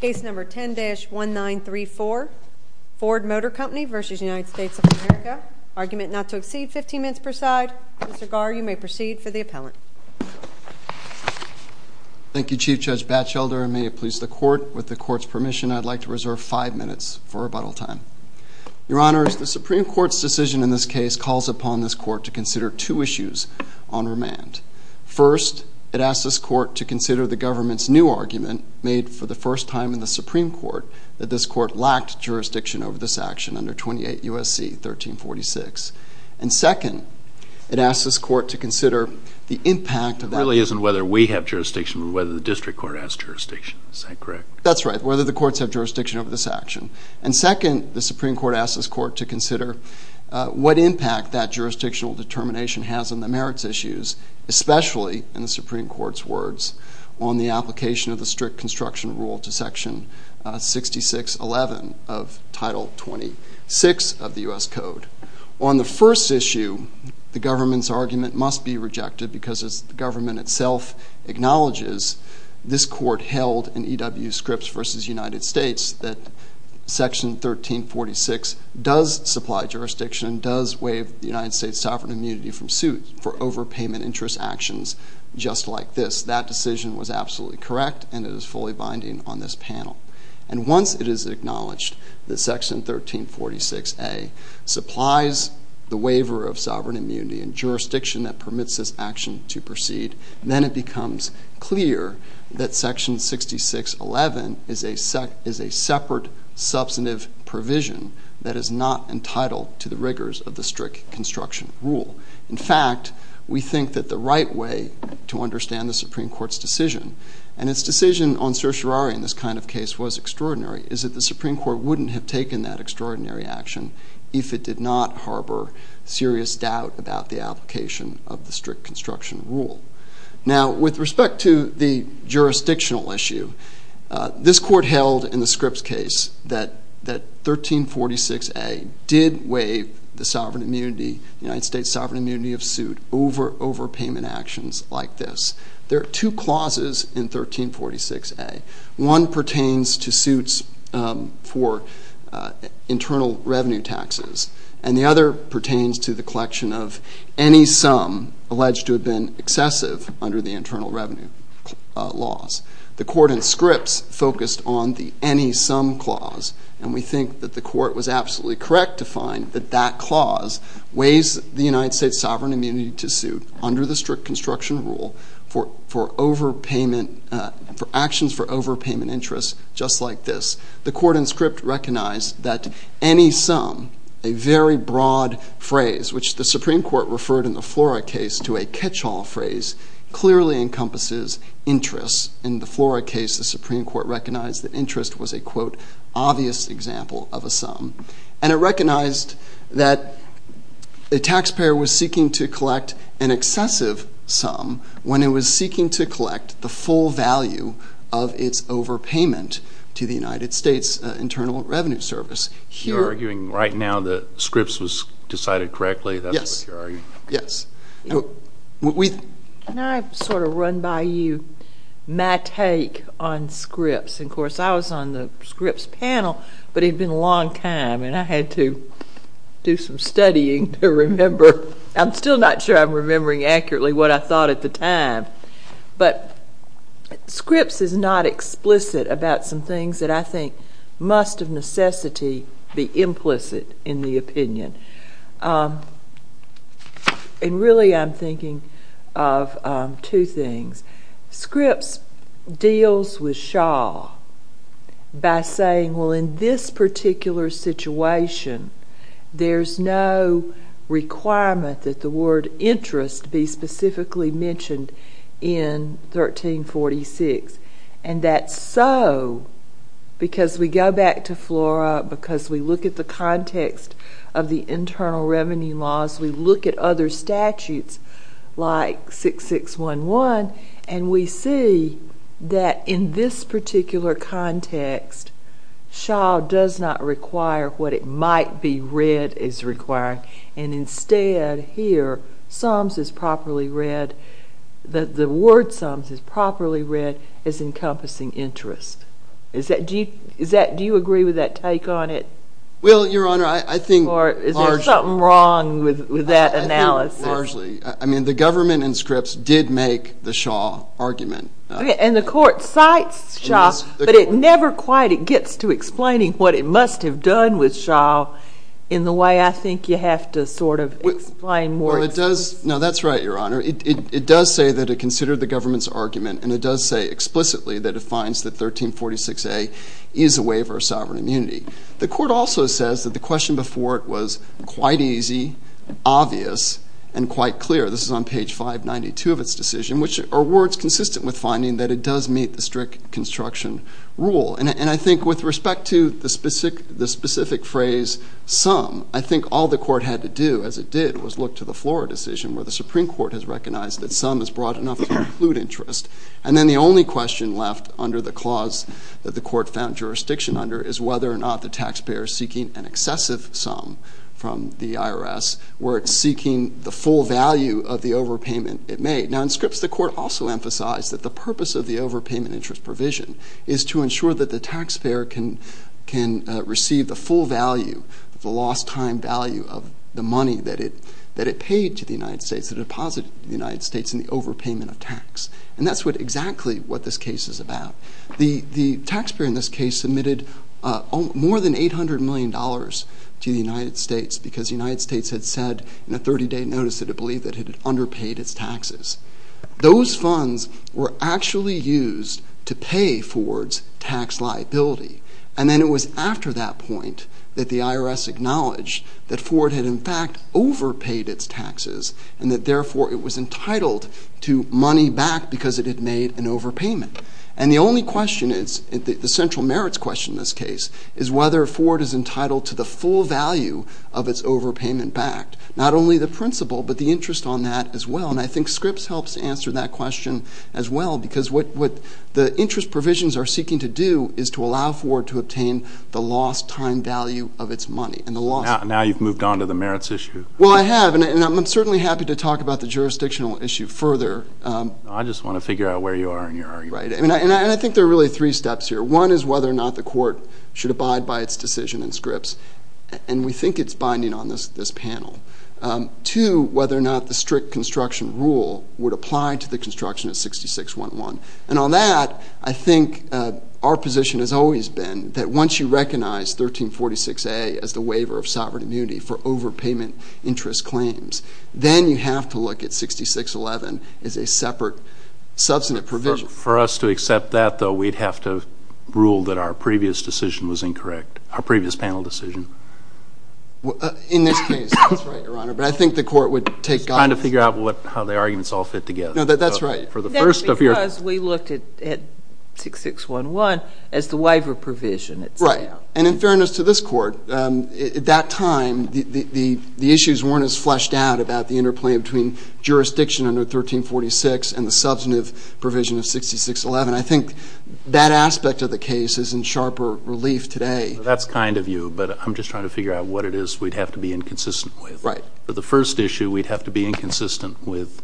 Case number 10-1934, Ford Motor Company v. United States of America. Argument not to exceed 15 minutes per side. Mr. Garr, you may proceed for the appellant. Thank you, Chief Judge Batchelder, and may it please the Court, with the Court's permission, I'd like to reserve five minutes for rebuttal time. Your Honors, the Supreme Court's decision in this case calls upon this Court to consider two issues on remand. First, it asks this Court to consider the government's new argument, made for the first time in the Supreme Court, that this Court lacked jurisdiction over this action under 28 U.S.C. 1346. And second, it asks this Court to consider the impact of that... It really isn't whether we have jurisdiction, but whether the district court has jurisdiction. Is that correct? That's right, whether the courts have jurisdiction over this action. And second, the Supreme Court asks this Court to consider what impact that jurisdictional determination has on the merits issues especially, in the Supreme Court's words, on the application of the strict construction rule to Section 6611 of Title 26 of the U.S. Code. On the first issue, the government's argument must be rejected because the government itself acknowledges this Court held in E.W. Scripps v. United States that Section 1346 does supply jurisdiction, and does waive the United States sovereign immunity from suit for overpayment interest actions just like this. That decision was absolutely correct, and it is fully binding on this panel. And once it is acknowledged that Section 1346A supplies the waiver of sovereign immunity and jurisdiction that permits this action to proceed, then it becomes clear that Section 6611 is a separate substantive provision that is not entitled to the rigors of the strict construction rule. In fact, we think that the right way to understand the Supreme Court's decision, and its decision on certiorari in this kind of case was extraordinary, is that the Supreme Court wouldn't have taken that extraordinary action if it did not harbor serious doubt about the application of the strict construction rule. Now, with respect to the jurisdictional issue, this Court held in the Scripps case that 1346A did waive the sovereign immunity, the United States sovereign immunity of suit over overpayment actions like this. There are two clauses in 1346A. One pertains to suits for internal revenue taxes, and the other pertains to the collection of any sum alleged to have been excessive under the internal revenue laws. The Court in Scripps focused on the any sum clause, and we think that the Court was absolutely correct to find that that clause weighs the United States sovereign immunity to suit under the strict construction rule for overpayment, for actions for overpayment interest just like this. The Court in Scripps recognized that any sum, a very broad phrase, which the Supreme Court referred in the Flora case to a catch-all phrase, clearly encompasses interest. In the Flora case, the Supreme Court recognized that interest was a quote, obvious example of a sum, and it recognized that a taxpayer was seeking to collect an excessive sum when it was seeking to collect the full value of its overpayment to the United States Internal Revenue Service. You're arguing right now that Scripps was decided correctly? Yes. That's what you're arguing? Yes. Can I sort of run by you my take on Scripps? Of course, I was on the Scripps panel, but it had been a long time, and I had to do some studying to remember. I'm still not sure I'm remembering accurately what I thought at the time, but Scripps is not explicit about some things that I think must of necessity be implicit in the opinion. Really, I'm thinking of two things. Scripps deals with Shaw by saying, well, in this particular situation, there's no requirement that the word interest be specifically mentioned in 1346, and that's so because we go back to Flora, because we look at the context of the internal revenue laws, we look at other statutes like 6611, and we see that in this particular context, Shaw does not require what it might be read as requiring, and instead here, the word sums is properly read as encompassing interest. Do you agree with that take on it? Well, Your Honor, I think largely. Or is there something wrong with that analysis? I think largely. I mean, the government in Scripps did make the Shaw argument. And the court cites Shaw, but it never quite gets to explaining what it must have done with Shaw in the way I think you have to sort of explain more. Well, it does. No, that's right, Your Honor. It does say that it considered the government's argument, and it does say explicitly that it finds that 1346A is a waiver of sovereign immunity. The court also says that the question before it was quite easy, obvious, and quite clear. This is on page 592 of its decision, which are words consistent with finding that it does meet the strict construction rule. And I think with respect to the specific phrase sum, I think all the court had to do, as it did, was look to the Flora decision where the Supreme Court has recognized that sum is broad enough to include interest. And then the only question left under the clause that the court found jurisdiction under is whether or not the taxpayer is seeking an excessive sum from the IRS where it's seeking the full value of the overpayment it made. Now, in Scripps, the court also emphasized that the purpose of the overpayment interest provision is to ensure that the taxpayer can receive the full value, the lost time value of the money that it paid to the United States, the deposit to the United States in the overpayment of tax. And that's exactly what this case is about. The taxpayer in this case submitted more than $800 million to the United States because the United States had said in a 30-day notice that it believed that it had underpaid its taxes. Those funds were actually used to pay Ford's tax liability. And then it was after that point that the IRS acknowledged that Ford had, in fact, overpaid its taxes and that, therefore, it was entitled to money back because it had made an overpayment. And the only question is, the central merits question in this case, is whether Ford is entitled to the full value of its overpayment back, not only the principle but the interest on that as well. And I think Scripps helps answer that question as well because what the interest provisions are seeking to do is to allow Ford to obtain the lost time value of its money. Now you've moved on to the merits issue. Well, I have, and I'm certainly happy to talk about the jurisdictional issue further. I just want to figure out where you are in your argument. Right, and I think there are really three steps here. One is whether or not the court should abide by its decision in Scripps, and we think it's binding on this panel. Two, whether or not the strict construction rule would apply to the construction of 6611. And on that, I think our position has always been that once you recognize 1346A as the waiver of sovereign immunity for overpayment interest claims, then you have to look at 6611 as a separate, substantive provision. For us to accept that, though, we'd have to rule that our previous decision was incorrect, our previous panel decision. In this case, that's right, Your Honor, but I think the court would take guidance. Trying to figure out how the arguments all fit together. No, that's right. That's because we looked at 6611 as the waiver provision. Right, and in fairness to this court, at that time, the issues weren't as fleshed out about the interplay between jurisdiction under 1346 and the substantive provision of 6611. I think that aspect of the case is in sharper relief today. That's kind of you, but I'm just trying to figure out what it is we'd have to be inconsistent with. Right. The first issue, we'd have to be inconsistent with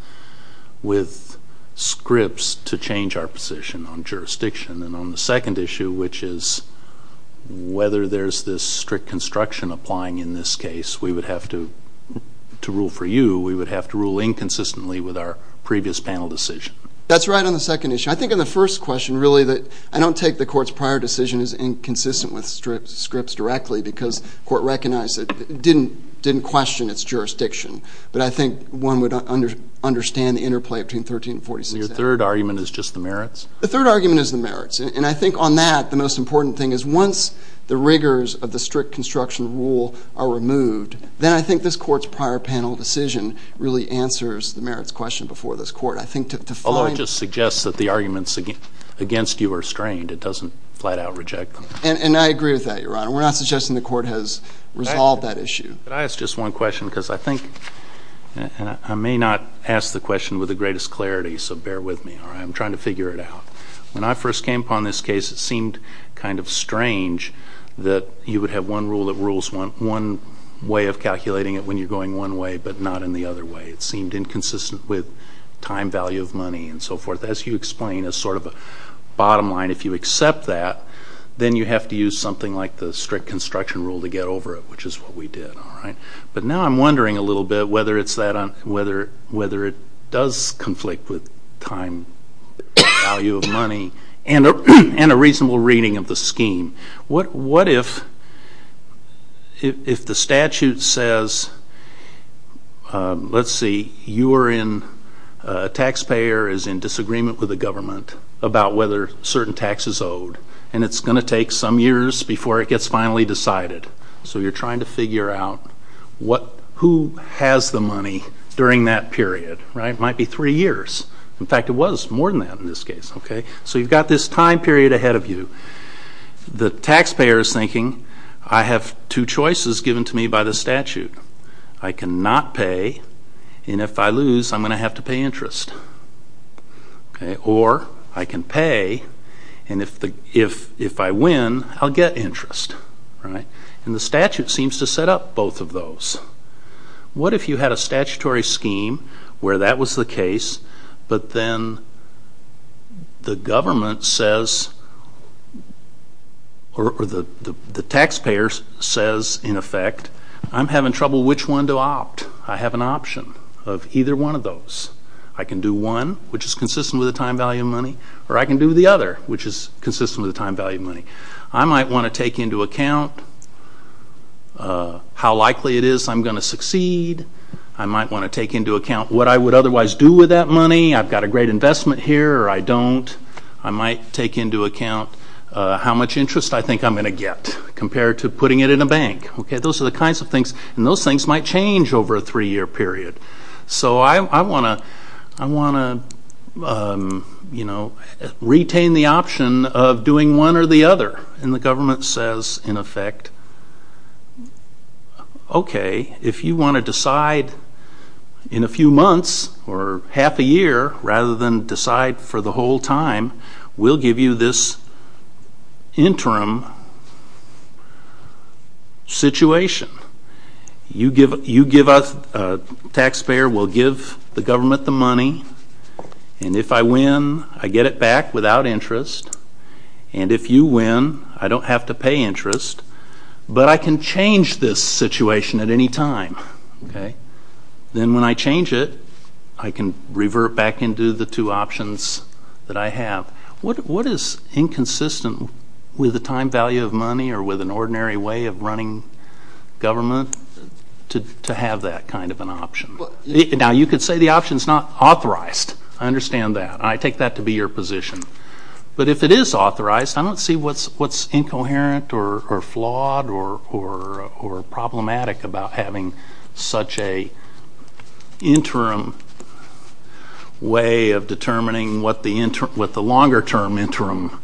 Scripps to change our position on jurisdiction. And on the second issue, which is whether there's this strict construction applying in this case, we would have to, to rule for you, we would have to rule inconsistently with our previous panel decision. That's right on the second issue. I think on the first question, really, I don't take the court's prior decision as inconsistent with Scripps directly because the court recognized it didn't question its jurisdiction. But I think one would understand the interplay between 13 and 46. Your third argument is just the merits? The third argument is the merits. And I think on that, the most important thing is once the rigors of the strict construction rule are removed, then I think this court's prior panel decision really answers the merits question before this court. I think to find— Although it just suggests that the arguments against you are strained. It doesn't flat out reject them. And I agree with that, Your Honor. We're not suggesting the court has resolved that issue. Can I ask just one question? Because I think, and I may not ask the question with the greatest clarity, so bear with me, all right? I'm trying to figure it out. When I first came upon this case, it seemed kind of strange that you would have one rule of rules, one way of calculating it when you're going one way but not in the other way. It seemed inconsistent with time value of money and so forth. As you explain, it's sort of a bottom line. If you accept that, then you have to use something like the strict construction rule to get over it, which is what we did, all right? But now I'm wondering a little bit whether it does conflict with time value of money and a reasonable reading of the scheme. What if the statute says, let's see, you are in—taxpayer is in disagreement with the government about whether certain tax is owed, and it's going to take some years before it gets finally decided. So you're trying to figure out who has the money during that period, right? It might be three years. In fact, it was more than that in this case, okay? So you've got this time period ahead of you. The taxpayer is thinking, I have two choices given to me by the statute. I cannot pay, and if I lose, I'm going to have to pay interest. Or I can pay, and if I win, I'll get interest, right? And the statute seems to set up both of those. What if you had a statutory scheme where that was the case, but then the government says—or the taxpayer says, in effect, I'm having trouble which one to opt. I can do one, which is consistent with the time value of money, or I can do the other, which is consistent with the time value of money. I might want to take into account how likely it is I'm going to succeed. I might want to take into account what I would otherwise do with that money. I've got a great investment here, or I don't. I might take into account how much interest I think I'm going to get compared to putting it in a bank. Those are the kinds of things, and those things might change over a three-year period. So I want to retain the option of doing one or the other. And the government says, in effect, okay, if you want to decide in a few months or half a year, rather than decide for the whole time, we'll give you this interim situation. You give us—the taxpayer will give the government the money, and if I win, I get it back without interest. And if you win, I don't have to pay interest, but I can change this situation at any time. Then when I change it, I can revert back into the two options that I have. What is inconsistent with the time value of money or with an ordinary way of running government to have that kind of an option? Now, you could say the option is not authorized. I understand that. I take that to be your position. But if it is authorized, I don't see what's incoherent or flawed or problematic about having such an interim way of determining what the longer-term interim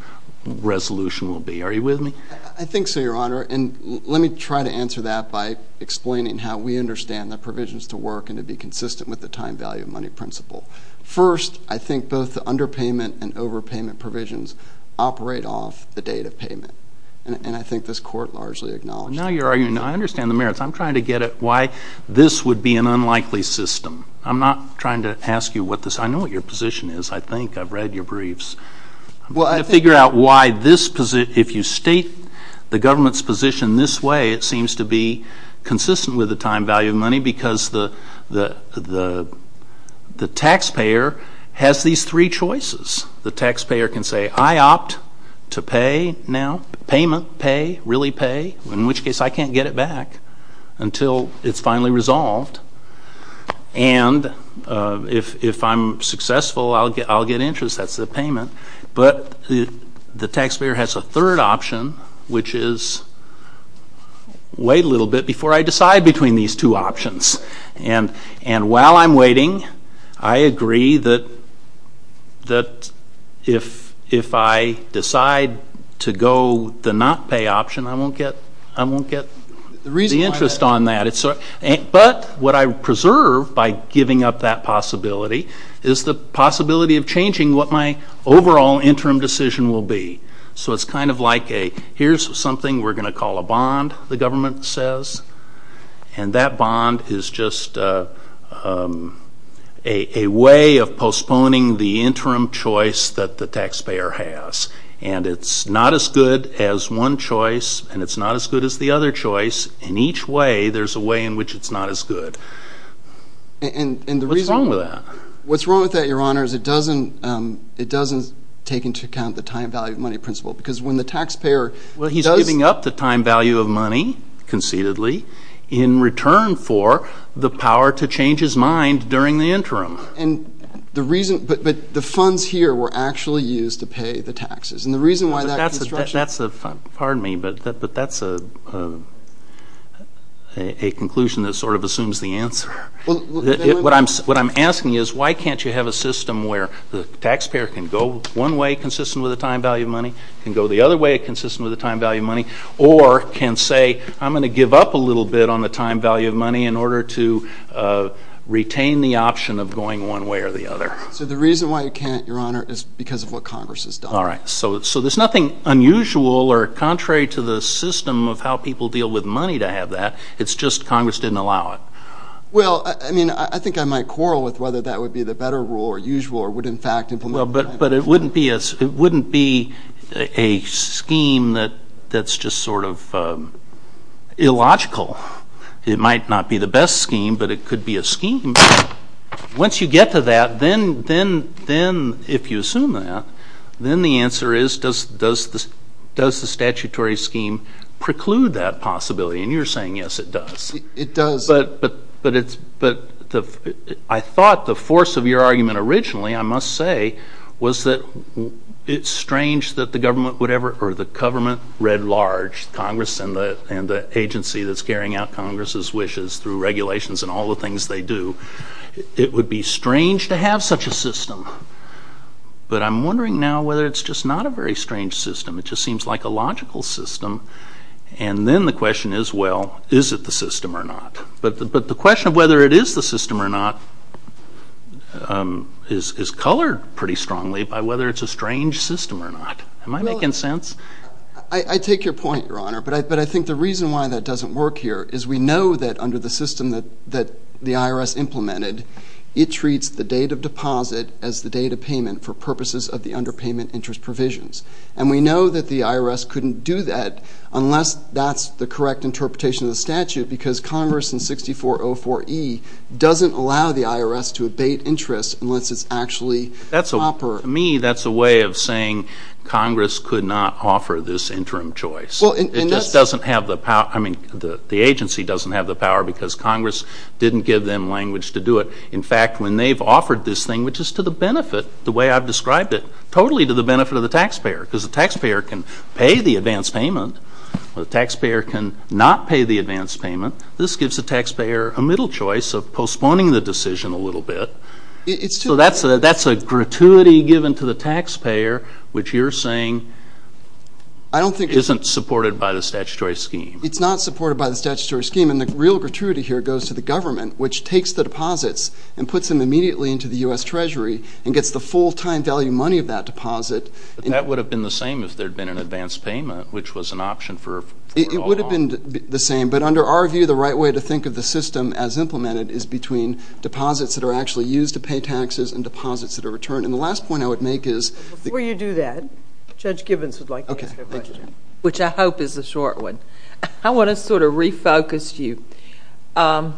resolution will be. Are you with me? I think so, Your Honor. And let me try to answer that by explaining how we understand the provisions to work and to be consistent with the time value of money principle. First, I think both the underpayment and overpayment provisions operate off the date of payment, and I think this Court largely acknowledged that. Now you're arguing, I understand the merits. I'm trying to get at why this would be an unlikely system. I'm not trying to ask you what this is. I know what your position is, I think. I've read your briefs. To figure out why this position, if you state the government's position this way, it seems to be consistent with the time value of money because the taxpayer has these three choices. The taxpayer can say, I opt to pay now, payment, pay, really pay, in which case I can't get it back until it's finally resolved. And if I'm successful, I'll get interest. That's the payment. But the taxpayer has a third option, which is, wait a little bit before I decide between these two options. And while I'm waiting, I agree that if I decide to go the not pay option, I won't get the interest on that. But what I preserve by giving up that possibility is the possibility of changing what my overall interim decision will be. So it's kind of like a, here's something we're going to call a bond, the government says, and that bond is just a way of postponing the interim choice that the taxpayer has. And it's not as good as one choice, and it's not as good as the other choice. In each way, there's a way in which it's not as good. What's wrong with that? What's wrong with that, Your Honor, is it doesn't take into account the time value of money principle Well, he's giving up the time value of money concededly in return for the power to change his mind during the interim. And the reason, but the funds here were actually used to pay the taxes. And the reason why that construction That's a, pardon me, but that's a conclusion that sort of assumes the answer. What I'm asking is why can't you have a system where the taxpayer can go one way consistent with the time value of money, can go the other way consistent with the time value of money, or can say I'm going to give up a little bit on the time value of money in order to retain the option of going one way or the other. So the reason why you can't, Your Honor, is because of what Congress has done. All right. So there's nothing unusual or contrary to the system of how people deal with money to have that. It's just Congress didn't allow it. Well, I mean, I think I might quarrel with whether that would be the better rule or usual or would in fact implement. But it wouldn't be a scheme that's just sort of illogical. It might not be the best scheme, but it could be a scheme. Once you get to that, then if you assume that, then the answer is does the statutory scheme preclude that possibility? And you're saying yes, it does. But I thought the force of your argument originally, I must say, was that it's strange that the government would ever, or the government read large, Congress and the agency that's carrying out Congress's wishes through regulations and all the things they do, it would be strange to have such a system. But I'm wondering now whether it's just not a very strange system. It just seems like a logical system. And then the question is, well, is it the system or not? But the question of whether it is the system or not is colored pretty strongly by whether it's a strange system or not. Am I making sense? I take your point, Your Honor. But I think the reason why that doesn't work here is we know that under the system that the IRS implemented, it treats the date of deposit as the date of payment for purposes of the underpayment interest provisions. And we know that the IRS couldn't do that unless that's the correct interpretation of the statute because Congress in 6404E doesn't allow the IRS to abate interest unless it's actually proper. To me, that's a way of saying Congress could not offer this interim choice. It just doesn't have the power. I mean, the agency doesn't have the power because Congress didn't give them language to do it. In fact, when they've offered this thing, which is to the benefit, the way I've described it, totally to the benefit of the taxpayer because the taxpayer can pay the advance payment. The taxpayer can not pay the advance payment. This gives the taxpayer a middle choice of postponing the decision a little bit. So that's a gratuity given to the taxpayer, which you're saying isn't supported by the statutory scheme. It's not supported by the statutory scheme. And the real gratuity here goes to the government, which takes the deposits and puts them immediately into the U.S. Treasury and gets the full-time value money of that deposit. But that would have been the same if there had been an advance payment, which was an option for all along. It would have been the same. But under our view, the right way to think of the system as implemented is between deposits that are actually used to pay taxes and deposits that are returned. And the last point I would make is... Before you do that, Judge Gibbons would like to ask a question, which I hope is a short one. I want to sort of refocus you and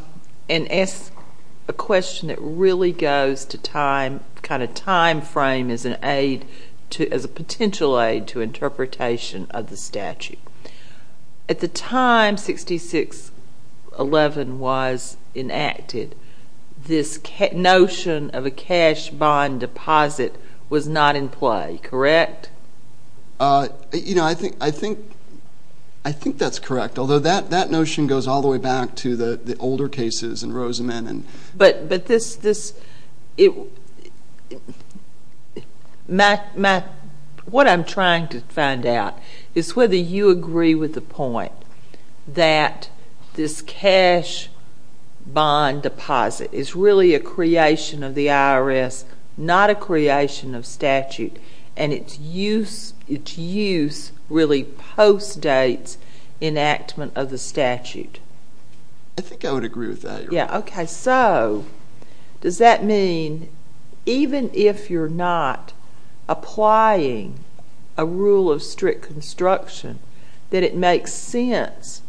ask a question that really goes to kind of time frame as a potential aid to interpretation of the statute. At the time 6611 was enacted, this notion of a cash bond deposit was not in play, correct? You know, I think that's correct. Although that notion goes all the way back to the older cases in Rosamond. But what I'm trying to find out is whether you agree with the point that this cash bond deposit is really a creation of the IRS, not a creation of statute. And its use really postdates enactment of the statute. I think I would agree with that. Yeah, okay. So does that mean even if you're not applying a rule of strict construction, that it makes sense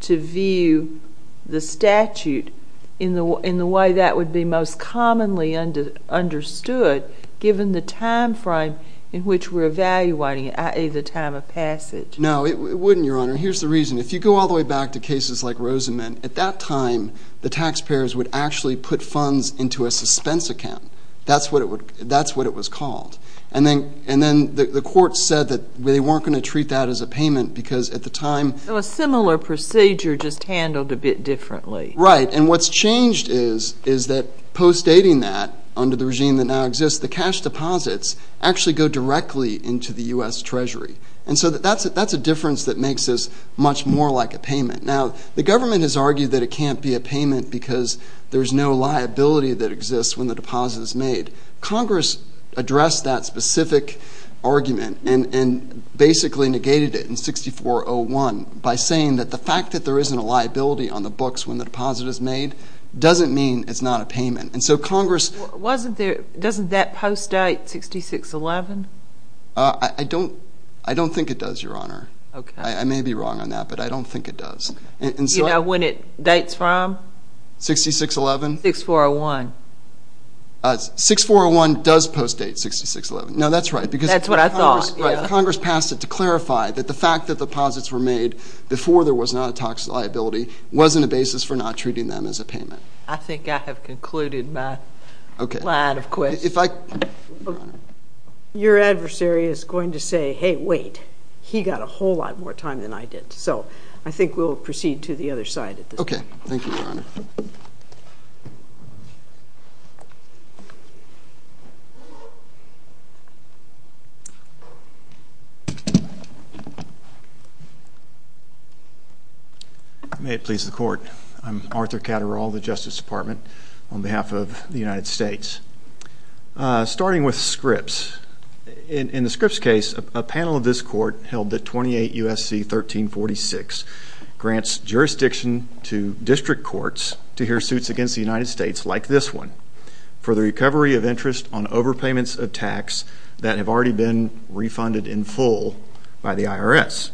to view the statute in the way that would be most commonly understood given the time frame in which we're evaluating it, i.e., the time of passage? No, it wouldn't, Your Honor. Here's the reason. If you go all the way back to cases like Rosamond, at that time the taxpayers would actually put funds into a suspense account. That's what it was called. And then the courts said that they weren't going to treat that as a payment because at the time... So a similar procedure, just handled a bit differently. Right. And what's changed is that postdating that under the regime that now exists, the cash deposits actually go directly into the U.S. Treasury. And so that's a difference that makes this much more like a payment. Now, the government has argued that it can't be a payment because there's no liability that exists when the deposit is made. Congress addressed that specific argument and basically negated it in 6401 by saying that the fact that there isn't a liability on the books when the deposit is made doesn't mean it's not a payment. And so Congress... Doesn't that postdate 6611? I don't think it does, Your Honor. I may be wrong on that, but I don't think it does. You know when it dates from? 6611? 6401. 6401 does postdate 6611. No, that's right because... That's what I thought. Congress passed it to clarify that the fact that deposits were made before there was not a tax liability wasn't a basis for not treating them as a payment. I think I have concluded my line of questions. Okay. Your adversary is going to say, hey, wait, he got a whole lot more time than I did. So I think we'll proceed to the other side at this point. Okay. Thank you, Your Honor. May it please the Court. I'm Arthur Catterall, the Justice Department, on behalf of the United States. Starting with Scripps. In the Scripps case, a panel of this Court held that 28 U.S.C. 1346 grants jurisdiction to district courts to hear suits against the United States, like this one, for the recovery of interest on overpayments of tax that have already been refunded in full by the IRS.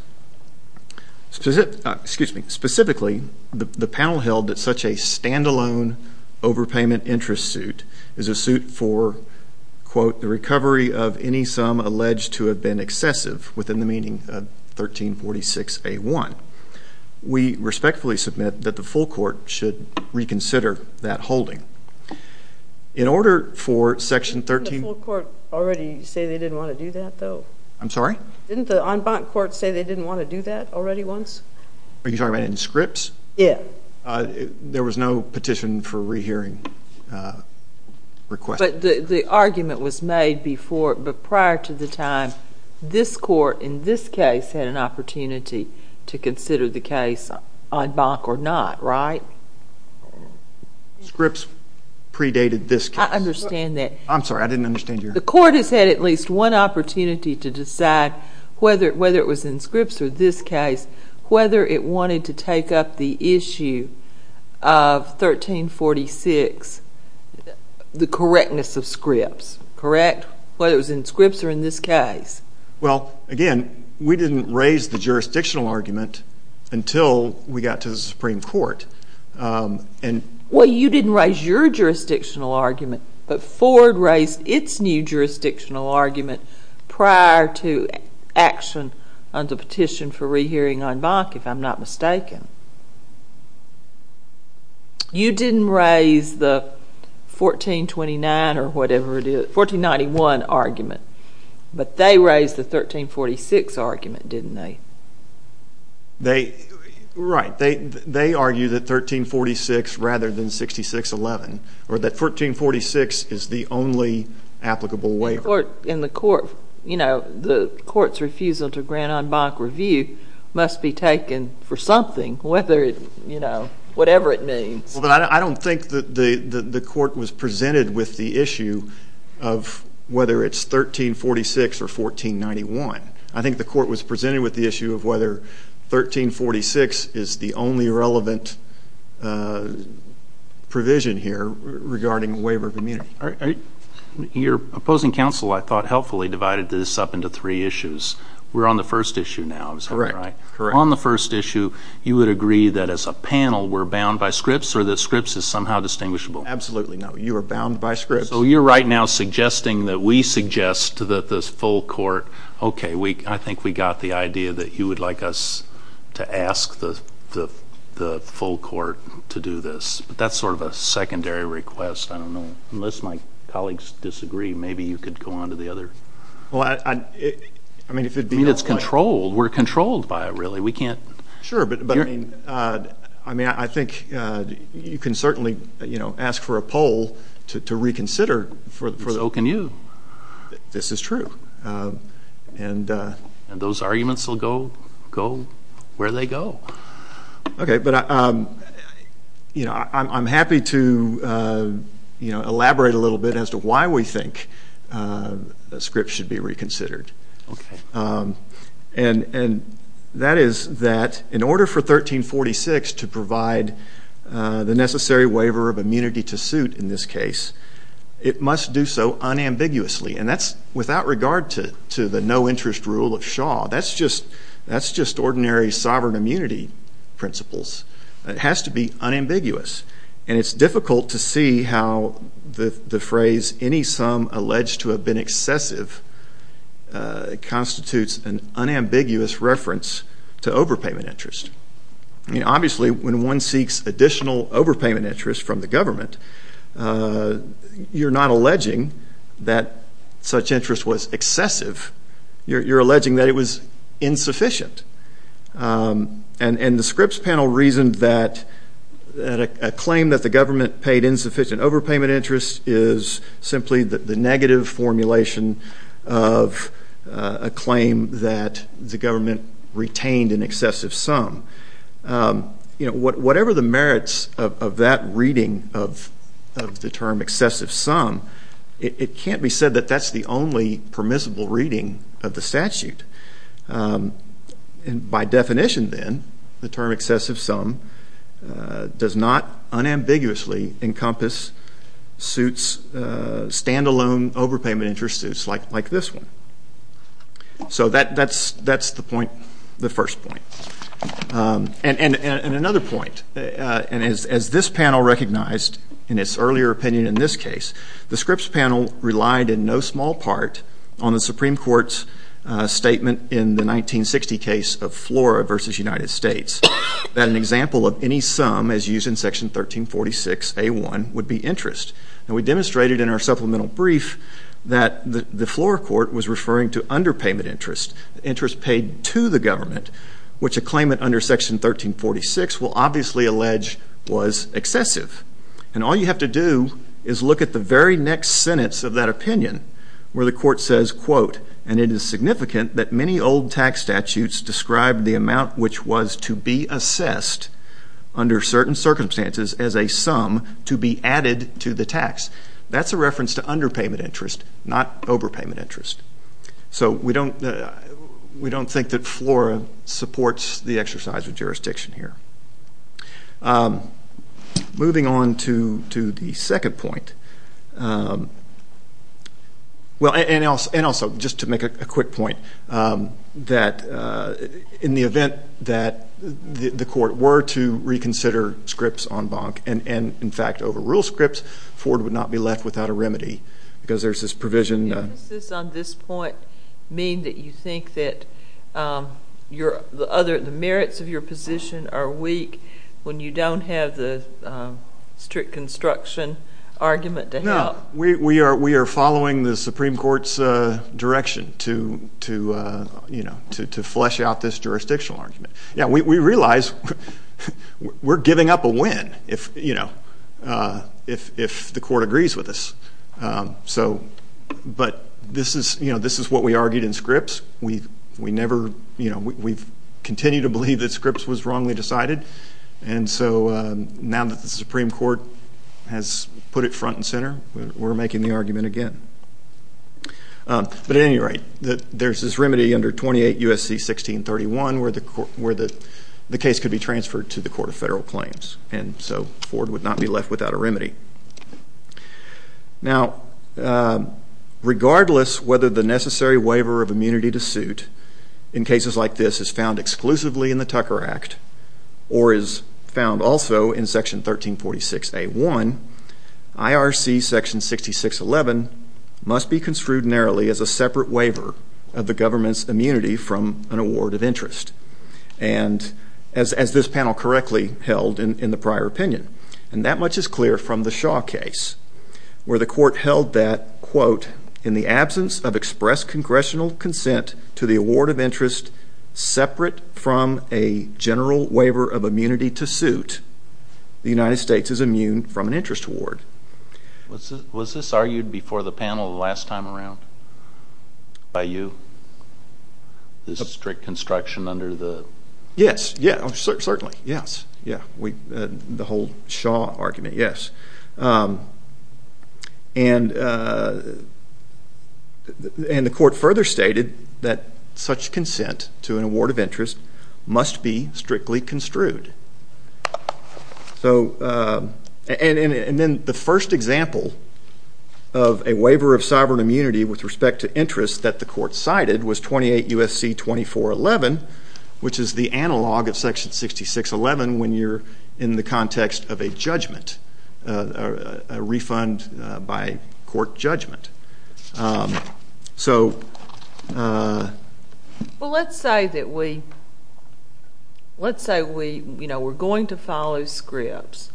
Specifically, the panel held that such a stand-alone overpayment interest suit is a suit for, quote, the recovery of any sum alleged to have been excessive within the meaning of 1346A1. We respectfully submit that the full Court should reconsider that holding. In order for Section 13- Didn't the full Court already say they didn't want to do that, though? I'm sorry? Didn't the en banc Court say they didn't want to do that already once? Are you talking about in Scripps? Yeah. There was no petition for rehearing request. But the argument was made before, but prior to the time, this Court, in this case, had an opportunity to consider the case en banc or not, right? Scripps predated this case. I understand that. I'm sorry. I didn't understand your- The Court has had at least one opportunity to decide, whether it was in Scripps or this case, whether it wanted to take up the issue of 1346, the correctness of Scripps, correct? Whether it was in Scripps or in this case. Well, again, we didn't raise the jurisdictional argument until we got to the Supreme Court. Well, you didn't raise your jurisdictional argument, but Ford raised its new jurisdictional argument prior to action on the petition for rehearing en banc, if I'm not mistaken. You didn't raise the 1429 or whatever it is, 1491 argument, but they raised the 1346 argument, didn't they? Right. They argued that 1346 rather than 6611, or that 1346 is the only applicable way. In the Court, the Court's refusal to grant en banc review must be taken for something, whatever it means. I don't think the Court was presented with the issue of whether it's 1346 or 1491. I think the Court was presented with the issue of whether 1346 is the only relevant provision here regarding waiver of immunity. Your opposing counsel, I thought, helpfully divided this up into three issues. We're on the first issue now, am I right? Correct. On the first issue, you would agree that as a panel, we're bound by Scripps, or that Scripps is somehow distinguishable? Absolutely not. You are bound by Scripps. So you're right now suggesting that we suggest to the full Court, okay, I think we got the idea that you would like us to ask the full Court to do this. But that's sort of a secondary request, I don't know. Unless my colleagues disagree, maybe you could go on to the other. Well, I mean, if it'd be- I mean, it's controlled. We're controlled by it, really. We can't- For the Oak and Yew. This is true. And those arguments will go where they go. Okay, but I'm happy to elaborate a little bit as to why we think that Scripps should be reconsidered. Okay. And that is that in order for 1346 to provide the necessary waiver of immunity to suit in this case, it must do so unambiguously. And that's without regard to the no-interest rule of Shaw. That's just ordinary sovereign immunity principles. It has to be unambiguous. And it's difficult to see how the phrase, any sum alleged to have been excessive, constitutes an unambiguous reference to overpayment interest. I mean, obviously, when one seeks additional overpayment interest from the government, you're not alleging that such interest was excessive. You're alleging that it was insufficient. And the Scripps panel reasoned that a claim that the government paid insufficient overpayment interest is simply the negative formulation of a claim that the government retained an excessive sum. Whatever the merits of that reading of the term excessive sum, it can't be said that that's the only permissible reading of the statute. And by definition, then, the term excessive sum does not unambiguously encompass suits, stand-alone overpayment interest suits like this one. So that's the point, the first point. And another point, and as this panel recognized in its earlier opinion in this case, the Scripps panel relied in no small part on the Supreme Court's statement in the 1960 case of Flora v. United States, that an example of any sum as used in Section 1346A1 would be interest. And we demonstrated in our supplemental brief that the Flora court was referring to underpayment interest, interest paid to the government, which a claimant under Section 1346 will obviously allege was excessive. And all you have to do is look at the very next sentence of that opinion where the court says, quote, and it is significant that many old tax statutes describe the amount which was to be assessed under certain circumstances as a sum to be added to the tax. That's a reference to underpayment interest, not overpayment interest. So we don't think that Flora supports the exercise of jurisdiction here. Moving on to the second point, well, and also just to make a quick point, that in the event that the court were to reconsider Scripps en banc, and in fact overrule Scripps, Ford would not be left without a remedy because there's this provision. Does this on this point mean that you think that the merits of your position are weak when you don't have the strict construction argument to help? No, we are following the Supreme Court's direction to flesh out this jurisdictional argument. Yeah, we realize we're giving up a win if the court agrees with us. But this is what we argued in Scripps. We've continued to believe that Scripps was wrongly decided, and so now that the Supreme Court has put it front and center, we're making the argument again. But at any rate, there's this remedy under 28 U.S.C. 1631 where the case could be transferred to the Court of Federal Claims, and so Ford would not be left without a remedy. Now, regardless whether the necessary waiver of immunity to suit in cases like this is found exclusively in the Tucker Act or is found also in Section 1346A1, IRC Section 6611 must be construed narrowly as a separate waiver of the government's immunity from an award of interest, as this panel correctly held in the prior opinion. And that much is clear from the Shaw case where the court held that, quote, in the absence of express congressional consent to the award of interest separate from a general waiver of immunity to suit, the United States is immune from an interest award. Was this argued before the panel the last time around by you, this strict construction under the? Yes, yeah, certainly, yes. The whole Shaw argument, yes. And the court further stated that such consent to an award of interest must be strictly construed. And then the first example of a waiver of sovereign immunity with respect to interest that the court cited was 28 U.S.C. 2411, which is the analog of Section 6611 when you're in the context of a judgment, a refund by court judgment. So. Well, let's say that we, let's say we, you know, we're going to follow scripts.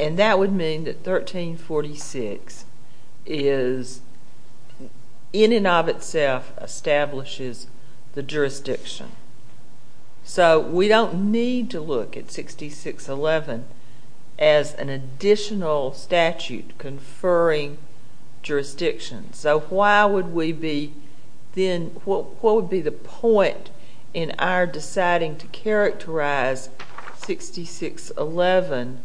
And that would mean that 1346 is in and of itself establishes the jurisdiction. So we don't need to look at 6611 as an additional statute conferring jurisdiction. So why would we be then, what would be the point in our deciding to characterize 6611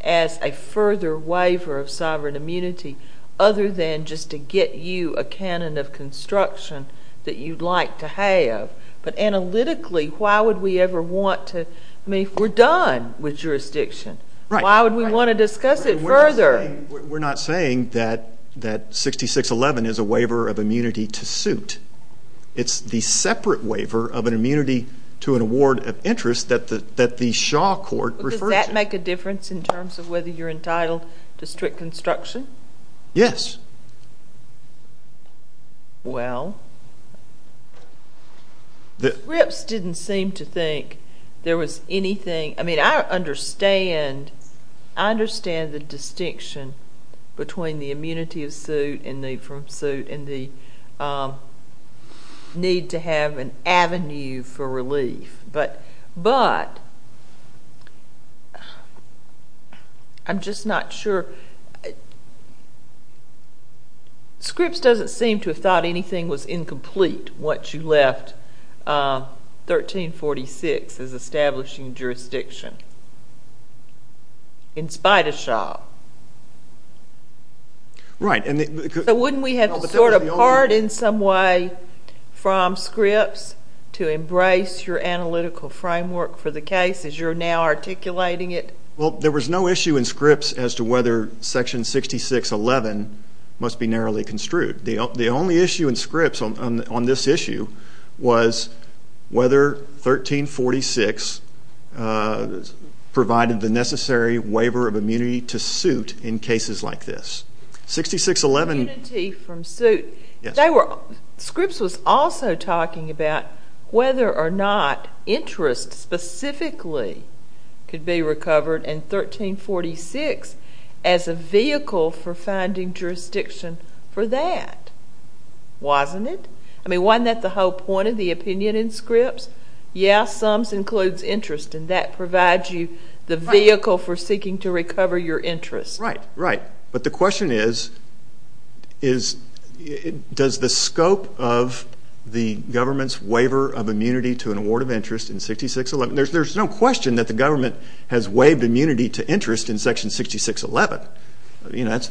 as a further waiver of sovereign immunity other than just to get you a canon of construction that you'd like to have? But analytically, why would we ever want to, I mean, we're done with jurisdiction. Right. Why would we want to discuss it further? We're not saying that 6611 is a waiver of immunity to suit. It's the separate waiver of an immunity to an award of interest that the Shaw court referred to. Does that make a difference in terms of whether you're entitled to strict construction? Yes. Well, the scripts didn't seem to think there was anything. I mean, I understand, I understand the distinction between the immunity of suit and the need to have an avenue for relief. But I'm just not sure. Scripts doesn't seem to have thought anything was incomplete once you left 1346 as establishing jurisdiction in spite of Shaw. Right. So wouldn't we have to sort of part in some way from scripts to embrace your analytical framework for the case as you're now articulating it? Well, there was no issue in scripts as to whether section 6611 must be narrowly construed. The only issue in scripts on this issue was whether 1346 provided the necessary waiver of immunity to suit in cases like this. 6611. Immunity from suit. Scripts was also talking about whether or not interest specifically could be recovered in 1346 as a vehicle for finding jurisdiction for that. Wasn't it? I mean, wasn't that the whole point of the opinion in scripts? Yes, sums includes interest and that provides you the vehicle for seeking to recover your interest. Right, right. But the question is, does the scope of the government's waiver of immunity to an award of interest in 6611, there's no question that the government has waived immunity to interest in section 6611. That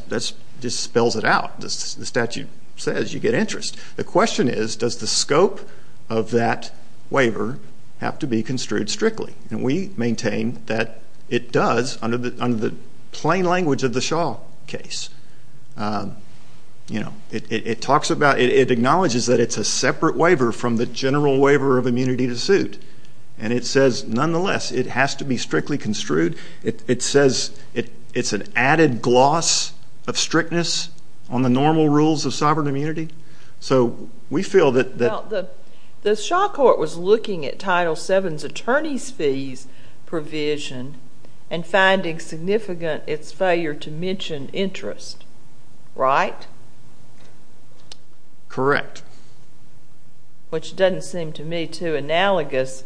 just spells it out. The statute says you get interest. The question is, does the scope of that waiver have to be construed strictly? And we maintain that it does under the plain language of the Shaw case. It acknowledges that it's a separate waiver from the general waiver of immunity to suit. And it says, nonetheless, it has to be strictly construed. It says it's an added gloss of strictness on the normal rules of sovereign immunity. The Shaw court was looking at Title VII's attorney's fees provision and finding significant its failure to mention interest, right? Correct. Which doesn't seem to me too analogous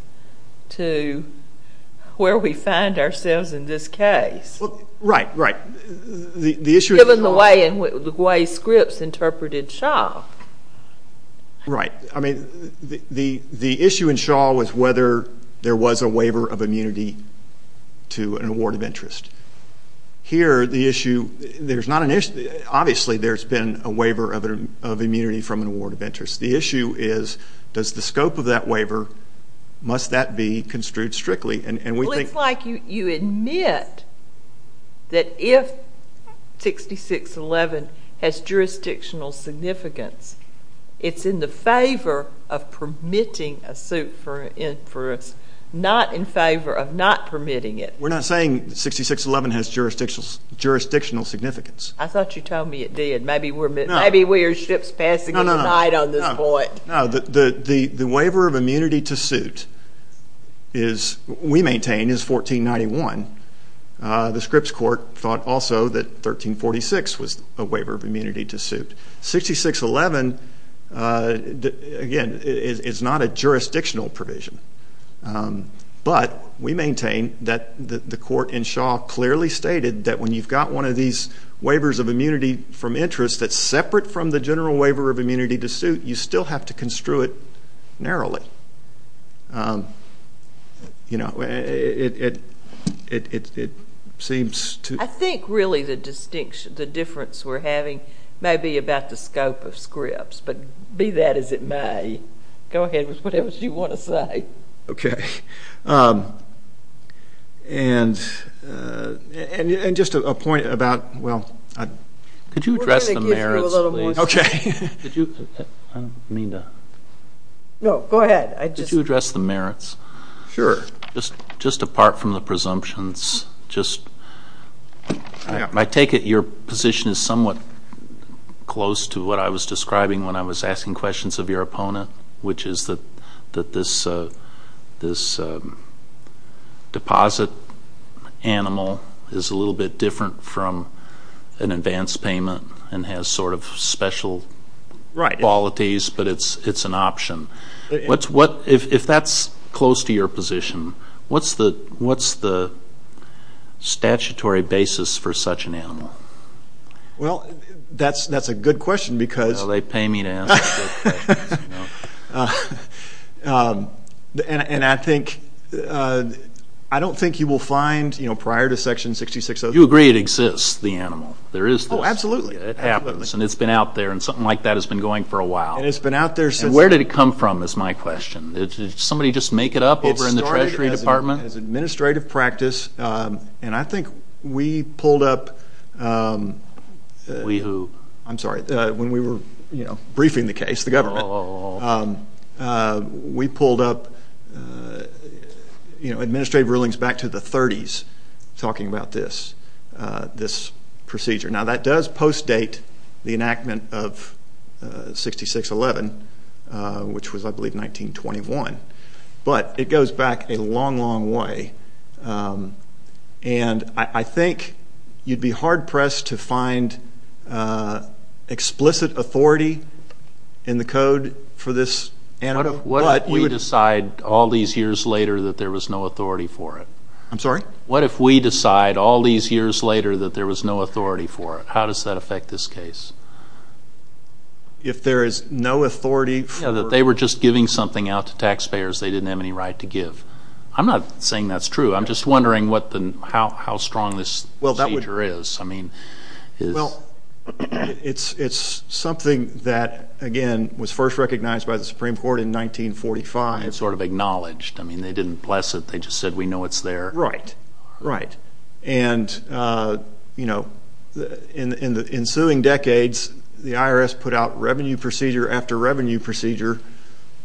to where we find ourselves in this case. Right, right. Given the way Scripps interpreted Shaw. Right. I mean, the issue in Shaw was whether there was a waiver of immunity to an award of interest. Here, the issue, there's not an issue. Obviously, there's been a waiver of immunity from an award of interest. The issue is, does the scope of that waiver, must that be construed strictly? Well, it's like you admit that if 6611 has jurisdictional significance, it's in the favor of permitting a suit for interest, not in favor of not permitting it. We're not saying 6611 has jurisdictional significance. I thought you told me it did. Maybe we're Scripps passing aside on this point. The waiver of immunity to suit is, we maintain, is 1491. The Scripps court thought also that 1346 was a waiver of immunity to suit. 6611, again, is not a jurisdictional provision. But we maintain that the court in Shaw clearly stated that when you've got one of these waivers of immunity from interest that's separate from the general waiver of immunity to suit, you still have to construe it narrowly. It seems to— I think, really, the difference we're having may be about the scope of Scripps. But be that as it may, go ahead with whatever you want to say. Okay. And just a point about— Could you address the merits, please? Okay. No, go ahead. Could you address the merits? Sure. Just apart from the presumptions, just— I take it your position is somewhat close to what I was describing when I was asking questions of your opponent, which is that this deposit animal is a little bit different from an advance payment and has sort of special qualities, but it's an option. If that's close to your position, what's the statutory basis for such an animal? Well, that's a good question because— And I think—I don't think you will find, you know, prior to Section 660— You agree it exists, the animal. There is this. Oh, absolutely. It happens, and it's been out there, and something like that has been going for a while. And it's been out there since— And where did it come from is my question. Did somebody just make it up over in the Treasury Department? It started as administrative practice, and I think we pulled up— We who? I'm sorry. When we were briefing the case, the government, we pulled up administrative rulings back to the 30s talking about this procedure. Now, that does post-date the enactment of 6611, which was, I believe, 1921, but it goes back a long, long way. And I think you'd be hard-pressed to find explicit authority in the code for this animal. What if we decide all these years later that there was no authority for it? I'm sorry? What if we decide all these years later that there was no authority for it? How does that affect this case? If there is no authority for— Yeah, that they were just giving something out to taxpayers they didn't have any right to give. I'm not saying that's true. I'm just wondering how strong this procedure is. Well, it's something that, again, was first recognized by the Supreme Court in 1945. It sort of acknowledged. I mean, they didn't bless it. They just said, we know it's there. Right. Right. And, you know, in the ensuing decades, the IRS put out revenue procedure after revenue procedure,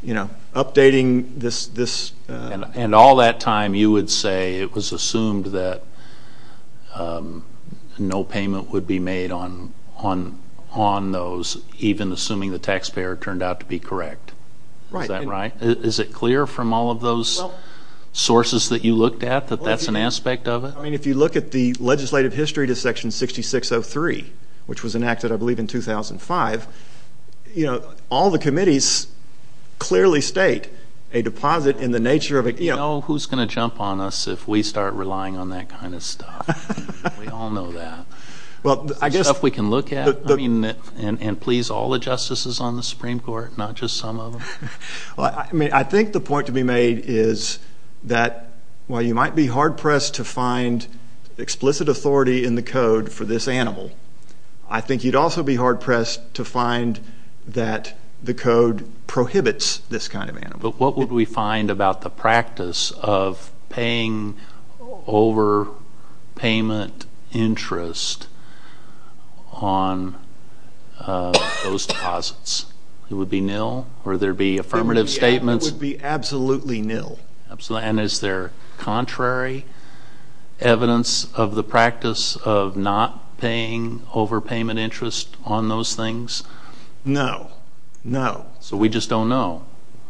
you know, updating this— And all that time you would say it was assumed that no payment would be made on those, even assuming the taxpayer turned out to be correct. Right. Is that right? Is it clear from all of those sources that you looked at that that's an aspect of it? I mean, if you look at the legislative history to Section 6603, which was enacted, I believe, in 2005, you know, all the committees clearly state a deposit in the nature of a— You know who's going to jump on us if we start relying on that kind of stuff. We all know that. Well, I guess— Stuff we can look at. I mean, and please, all the justices on the Supreme Court, not just some of them. I mean, I think the point to be made is that while you might be hard-pressed to find explicit authority in the code for this animal, I think you'd also be hard-pressed to find that the code prohibits this kind of animal. But what would we find about the practice of paying over payment interest on those deposits? It would be nil? Or there would be affirmative statements? It would be absolutely nil. And is there contrary evidence of the practice of not paying over payment interest on those things? No. No. So we just don't know?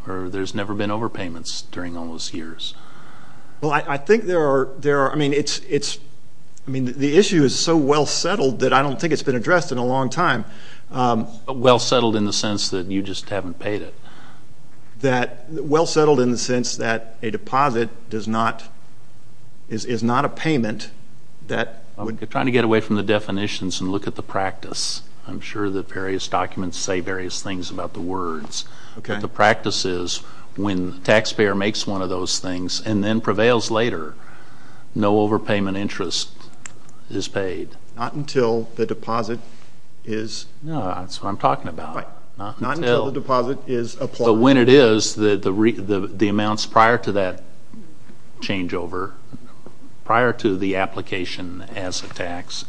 Or there's never been over payments during all those years? Well, I think there are. I mean, the issue is so well settled that I don't think it's been addressed in a long time. Well settled in the sense that you just haven't paid it? Well settled in the sense that a deposit is not a payment that— I'm trying to get away from the definitions and look at the practice. I'm sure that various documents say various things about the words. But the practice is when the taxpayer makes one of those things and then prevails later, no over payment interest is paid. Not until the deposit is— No, that's what I'm talking about. Right. Not until the deposit is applied. But when it is, the amounts prior to that changeover, prior to the application as a tax,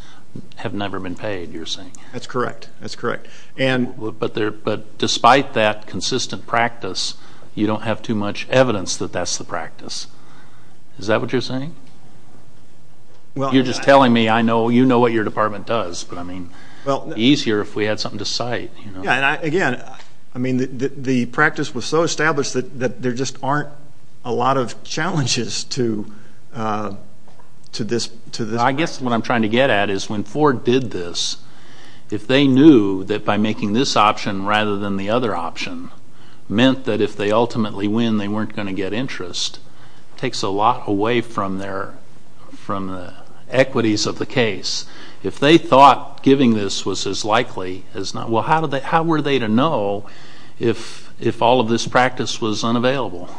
have never been paid, you're saying? That's correct. That's correct. But despite that consistent practice, you don't have too much evidence that that's the practice. Is that what you're saying? You're just telling me you know what your department does, but it would be easier if we had something to cite. Again, the practice was so established that there just aren't a lot of challenges to this practice. I guess what I'm trying to get at is when Ford did this, if they knew that by making this option rather than the other option meant that if they ultimately win, they weren't going to get interest, it takes a lot away from the equities of the case. If they thought giving this was as likely as not—well, how were they to know if all of this practice was unavailable?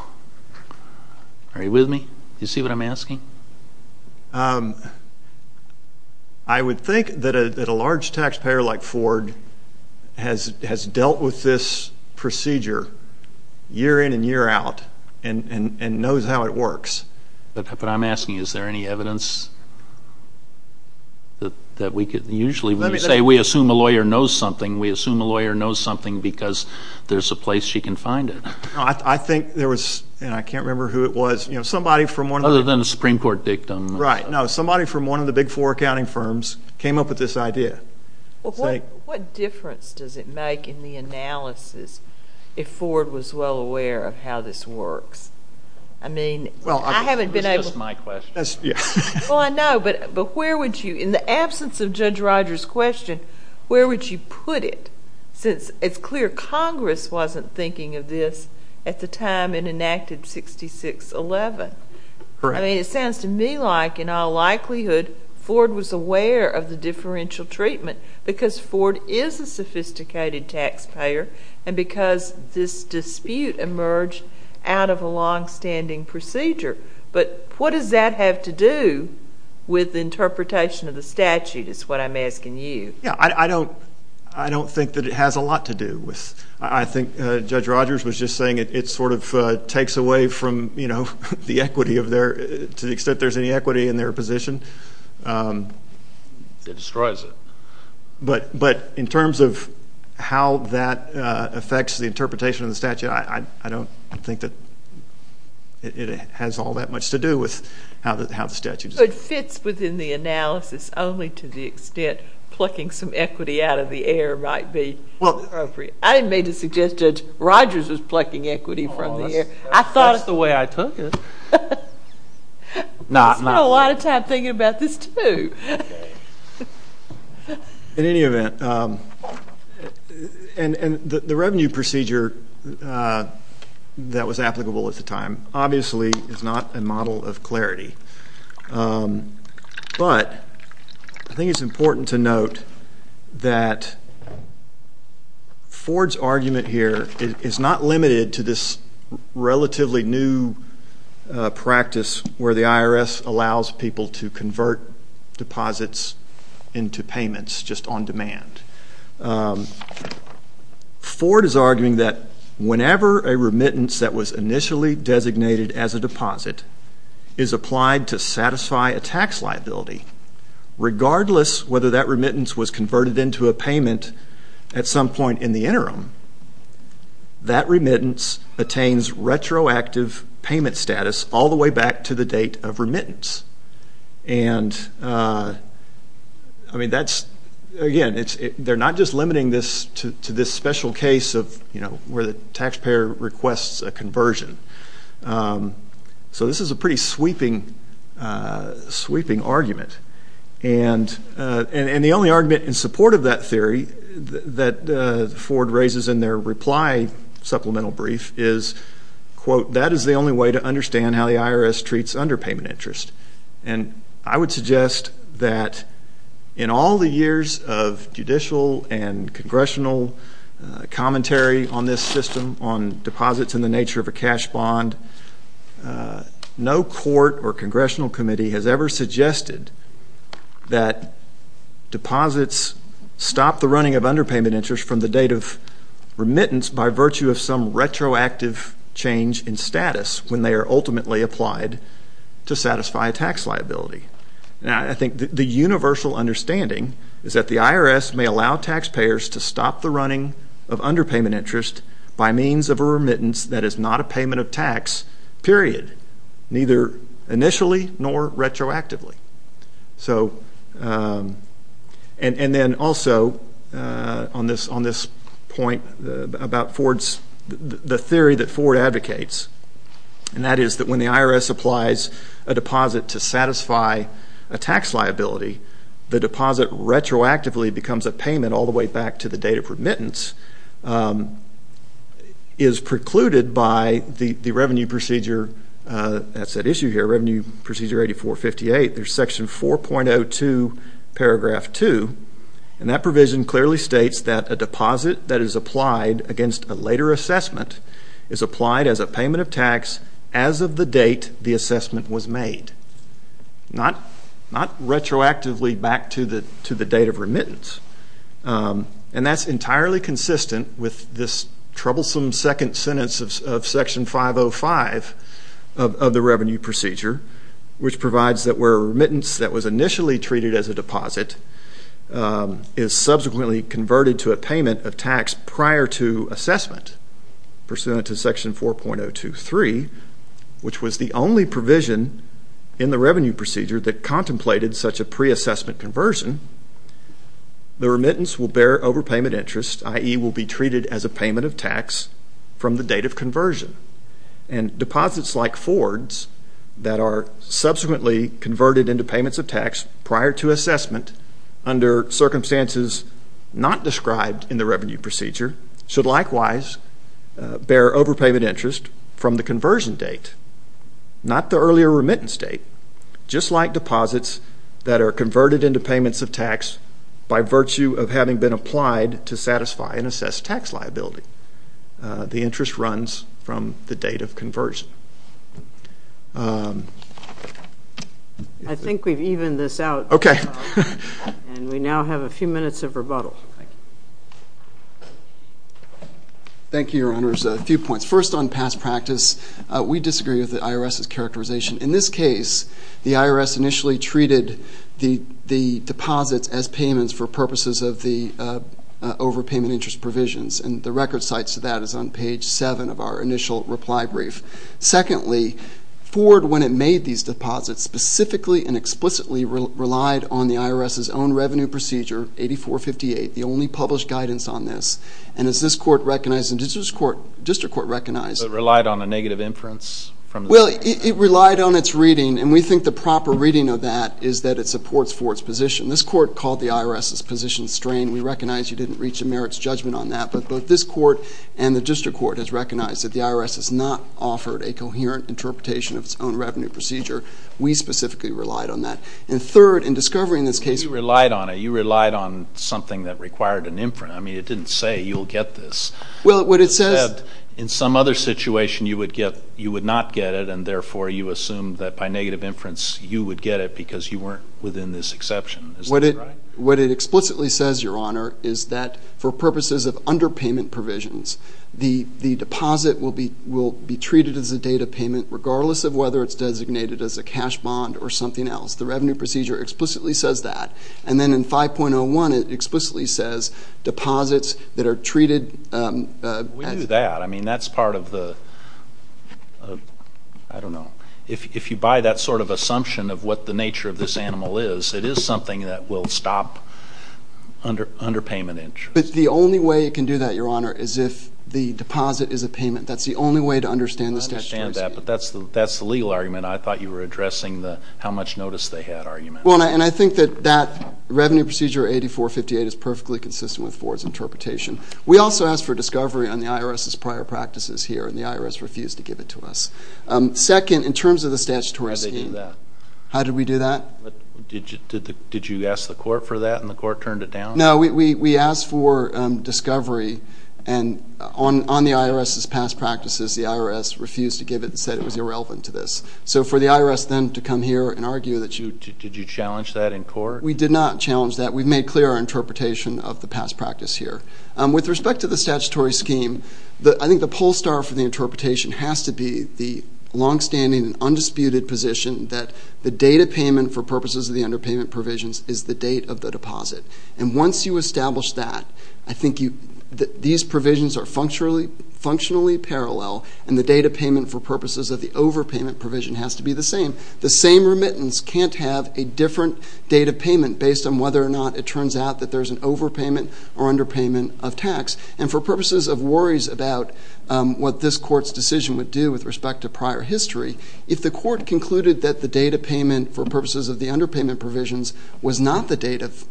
Are you with me? Do you see what I'm asking? I would think that a large taxpayer like Ford has dealt with this procedure year in and year out and knows how it works. But I'm asking, is there any evidence that we could—usually when you say we assume a lawyer knows something, we assume a lawyer knows something because there's a place she can find it. I think there was, and I can't remember who it was, somebody from one of the— Supreme Court dictum. Right. No, somebody from one of the big four accounting firms came up with this idea. What difference does it make in the analysis if Ford was well aware of how this works? I mean, I haven't been able— Well, that's just my question. Well, I know, but where would you—in the absence of Judge Rogers' question, where would you put it? Since it's clear Congress wasn't thinking of this at the time it enacted 6611. Correct. I mean, it sounds to me like in all likelihood Ford was aware of the differential treatment because Ford is a sophisticated taxpayer and because this dispute emerged out of a longstanding procedure. But what does that have to do with the interpretation of the statute is what I'm asking you. Yeah, I don't think that it has a lot to do with— I think Judge Rogers was just saying it sort of takes away from the equity of their— to the extent there's any equity in their position. It destroys it. But in terms of how that affects the interpretation of the statute, I don't think that it has all that much to do with how the statute is— It fits within the analysis only to the extent plucking some equity out of the air might be appropriate. I didn't mean to suggest Judge Rogers was plucking equity from the air. I thought of the way I took it. I spent a lot of time thinking about this too. In any event, and the revenue procedure that was applicable at the time obviously is not a model of clarity. But I think it's important to note that Ford's argument here is not limited to this relatively new practice where the IRS allows people to convert deposits into payments just on demand. Ford is arguing that whenever a remittance that was initially designated as a deposit is applied to satisfy a tax liability, regardless whether that remittance was converted into a payment at some point in the interim, that remittance attains retroactive payment status all the way back to the date of remittance. And, I mean, that's— Again, they're not just limiting this to this special case of where the taxpayer requests a conversion. So this is a pretty sweeping argument. And the only argument in support of that theory that Ford raises in their reply supplemental brief is, quote, that is the only way to understand how the IRS treats underpayment interest. And I would suggest that in all the years of judicial and congressional commentary on this system, on deposits and the nature of a cash bond, no court or congressional committee has ever suggested that deposits stop the running of underpayment interest from the date of remittance by virtue of some retroactive change in status when they are ultimately applied to satisfy a tax liability. Now, I think the universal understanding is that the IRS may allow taxpayers to stop the running of underpayment interest by means of a remittance that is not a payment of tax, period, neither initially nor retroactively. So—and then also on this point about Ford's—the theory that Ford advocates, and that is that when the IRS applies a deposit to satisfy a tax liability, the deposit retroactively becomes a payment all the way back to the date of remittance, is precluded by the revenue procedure—that's at issue here, Revenue Procedure 8458. There's Section 4.02, Paragraph 2. And that provision clearly states that a deposit that is applied against a later assessment is applied as a payment of tax as of the date the assessment was made. Not retroactively back to the date of remittance. And that's entirely consistent with this troublesome second sentence of Section 505 of the Revenue Procedure, which provides that where remittance that was initially treated as a deposit is subsequently converted to a payment of tax prior to assessment, pursuant to Section 4.023, which was the only provision in the Revenue Procedure that contemplated such a pre-assessment conversion, the remittance will bear overpayment interest, i.e., will be treated as a payment of tax from the date of conversion. And deposits like Ford's that are subsequently converted into payments of tax prior to assessment under circumstances not described in the Revenue Procedure should likewise bear overpayment interest from the conversion date, not the earlier remittance date, just like deposits that are converted into payments of tax by virtue of having been applied to satisfy and assess tax liability. The interest runs from the date of conversion. I think we've evened this out. Okay. And we now have a few minutes of rebuttal. Thank you, Your Honors. A few points. First, on past practice, we disagree with the IRS's characterization. In this case, the IRS initially treated the deposits as payments for purposes of the overpayment interest provisions, and the record cites to that is on page 7 of our initial reply brief. Secondly, Ford, when it made these deposits, specifically and explicitly relied on the IRS's own Revenue Procedure, 8458, the only published guidance on this, and as this Court recognized and as this District Court recognized But it relied on a negative inference? Well, it relied on its reading, and we think the proper reading of that is that it supports Ford's position. This Court called the IRS's position strained. We recognize you didn't reach a merits judgment on that, but this Court and the District Court has recognized that the IRS has not offered a coherent interpretation of its own Revenue Procedure. We specifically relied on that. And third, in discovering this case, You relied on it. You relied on something that required an inference. I mean, it didn't say you'll get this. Well, what it says In some other situation, you would not get it, and therefore you assumed that by negative inference you would get it because you weren't within this exception. Is that right? What it explicitly says, Your Honor, is that for purposes of underpayment provisions, the deposit will be treated as a data payment regardless of whether it's designated as a cash bond or something else. The Revenue Procedure explicitly says that. And then in 5.01, it explicitly says deposits that are treated as We knew that. I mean, that's part of the I don't know. If you buy that sort of assumption of what the nature of this animal is, it is something that will stop underpayment interest. But the only way it can do that, Your Honor, is if the deposit is a payment. That's the only way to understand the statutory scheme. I understand that, but that's the legal argument. I thought you were addressing the how much notice they had argument. Well, and I think that that Revenue Procedure 8458 is perfectly consistent with Ford's interpretation. We also asked for discovery on the IRS's prior practices here, and the IRS refused to give it to us. Second, in terms of the statutory scheme How did they do that? How did we do that? Did you ask the court for that, and the court turned it down? No. We asked for discovery on the IRS's past practices. The IRS refused to give it and said it was irrelevant to this. So for the IRS then to come here and argue that you Did you challenge that in court? We did not challenge that. We've made clear our interpretation of the past practice here. With respect to the statutory scheme, I think the pole star for the interpretation has to be the longstanding and undisputed position that the date of payment for purposes of the underpayment provisions is the date of the deposit. And once you establish that, I think these provisions are functionally parallel, and the date of payment for purposes of the overpayment provision has to be the same. The same remittance can't have a different date of payment based on whether or not it turns out that there's an overpayment or underpayment of tax. And for purposes of worries about what this court's decision would do with respect to prior history, if the court concluded that the date of payment for purposes of the underpayment provisions was not the date of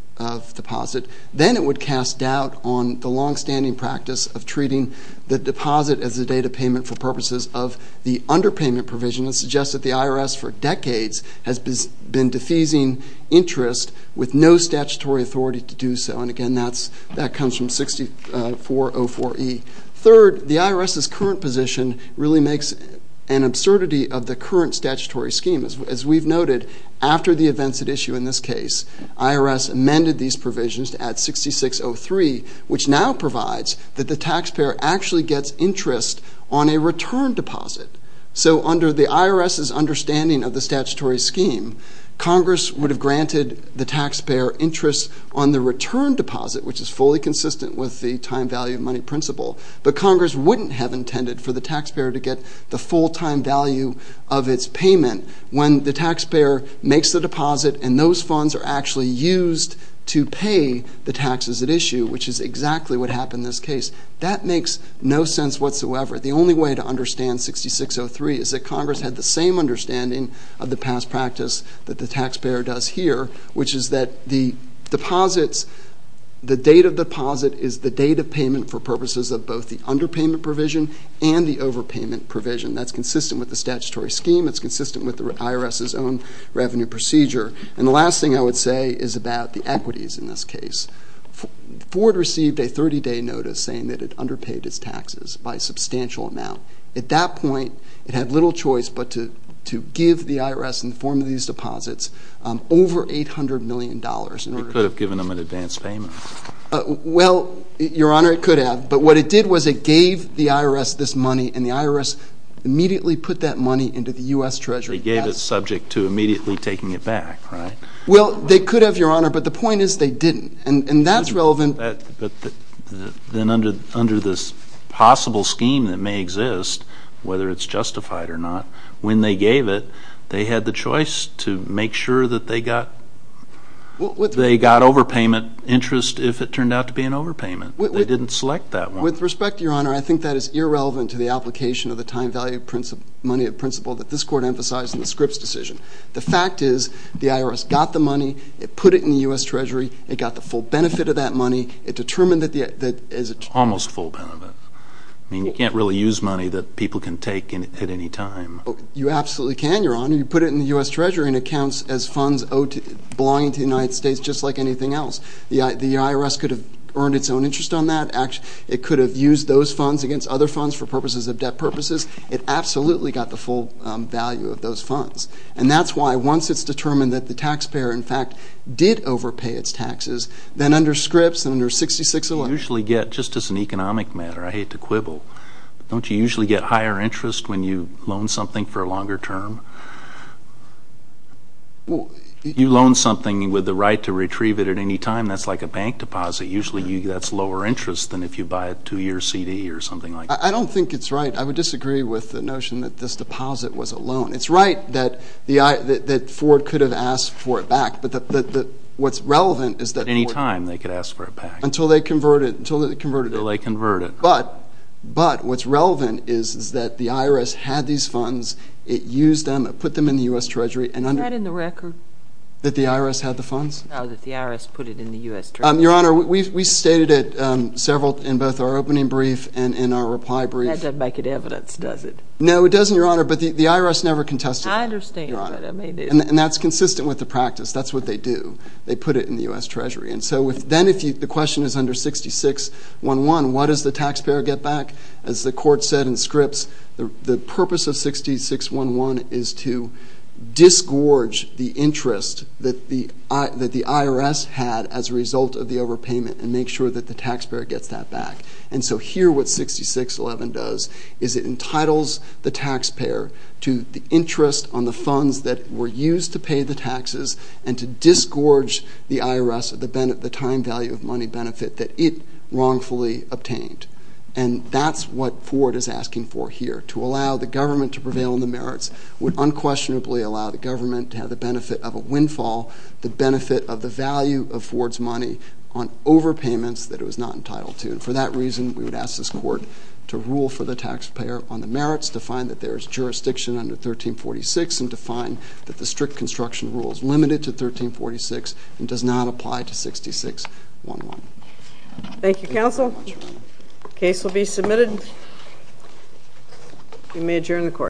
deposit, then it would cast doubt on the longstanding practice of treating the deposit as the date of payment for purposes of the underpayment provision and suggest that the IRS for decades has been defeasing interest with no statutory authority to do so. And again, that comes from 6404E. Third, the IRS's current position really makes an absurdity of the current statutory scheme. As we've noted, after the events at issue in this case, IRS amended these provisions to add 6603, which now provides that the taxpayer actually gets interest on a return deposit. So under the IRS's understanding of the statutory scheme, Congress would have granted the taxpayer interest on the return deposit, which is fully consistent with the time-value-of-money principle, but Congress wouldn't have intended for the taxpayer to get the full-time value of its payment when the taxpayer makes the deposit and those funds are actually used to pay the taxes at issue, which is exactly what happened in this case. That makes no sense whatsoever. The only way to understand 6603 is that Congress had the same understanding of the past practice that the taxpayer does here, which is that the deposits, the date of deposit is the date of payment for purposes of both the underpayment provision and the overpayment provision. That's consistent with the statutory scheme. It's consistent with the IRS's own revenue procedure. And the last thing I would say is about the equities in this case. Ford received a 30-day notice saying that it underpaid its taxes by a substantial amount. At that point, it had little choice but to give the IRS in the form of these deposits over $800 million in order to... It could have given them an advance payment. Well, Your Honor, it could have. But what it did was it gave the IRS this money and the IRS immediately put that money into the U.S. Treasury. They gave it subject to immediately taking it back, right? Well, they could have, Your Honor, but the point is they didn't. And that's relevant... But then under this possible scheme that may exist, whether it's justified or not, when they gave it, they had the choice to make sure that they got... They got overpayment interest if it turned out to be an overpayment. They didn't select that one. With respect, Your Honor, I think that is irrelevant to the application of the time-value money of principle that this Court emphasized in the Scripps decision. The fact is the IRS got the money, it put it in the U.S. Treasury, it got the full benefit of that money, it determined that... Almost full benefit. I mean, you can't really use money that people can take at any time. You absolutely can, Your Honor. You put it in the U.S. Treasury and it counts as funds belonging to the United States just like anything else. The IRS could have earned its own interest on that. It could have used those funds against other funds for purposes of debt purposes. It absolutely got the full value of those funds. And that's why once it's determined that the taxpayer, in fact, did overpay its taxes, then under Scripps, under 6611... You usually get, just as an economic matter, I hate to quibble, don't you usually get higher interest when you loan something for a longer term? You loan something with the right to retrieve it at any time, that's like a bank deposit. Usually that's lower interest than if you buy a two-year CD or something like that. I don't think it's right. I would disagree with the notion that this deposit was a loan. It's right that Ford could have asked for it back, but what's relevant is that... At any time they could ask for it back. Until they convert it. Until they convert it. But what's relevant is that the IRS had these funds, it used them, it put them in the U.S. Treasury. Is that in the record? That the IRS had the funds? No, that the IRS put it in the U.S. Treasury. Your Honor, we stated it several in both our opening brief and in our reply brief. That doesn't make it evidence, does it? No, it doesn't, Your Honor, but the IRS never contested it. I understand that. And that's consistent with the practice. That's what they do. They put it in the U.S. Treasury. And so then if the question is under 6611, what does the taxpayer get back? As the Court said in scripts, the purpose of 6611 is to disgorge the interest that the IRS had as a result of the overpayment and make sure that the taxpayer gets that back. And so here what 6611 does is it entitles the taxpayer to the interest on the funds that were used to pay the taxes and to disgorge the IRS of the time value of money benefit that it wrongfully obtained. And that's what Ford is asking for here, to allow the government to prevail on the merits, would unquestionably allow the government to have the benefit of a windfall, the benefit of the value of Ford's money on overpayments that it was not entitled to. And for that reason, we would ask this Court to rule for the taxpayer on the merits, to find that there is jurisdiction under 1346, and to find that the strict construction rule is limited to 1346 and does not apply to 6611. Thank you, Counsel. The case will be submitted. You may adjourn the Court.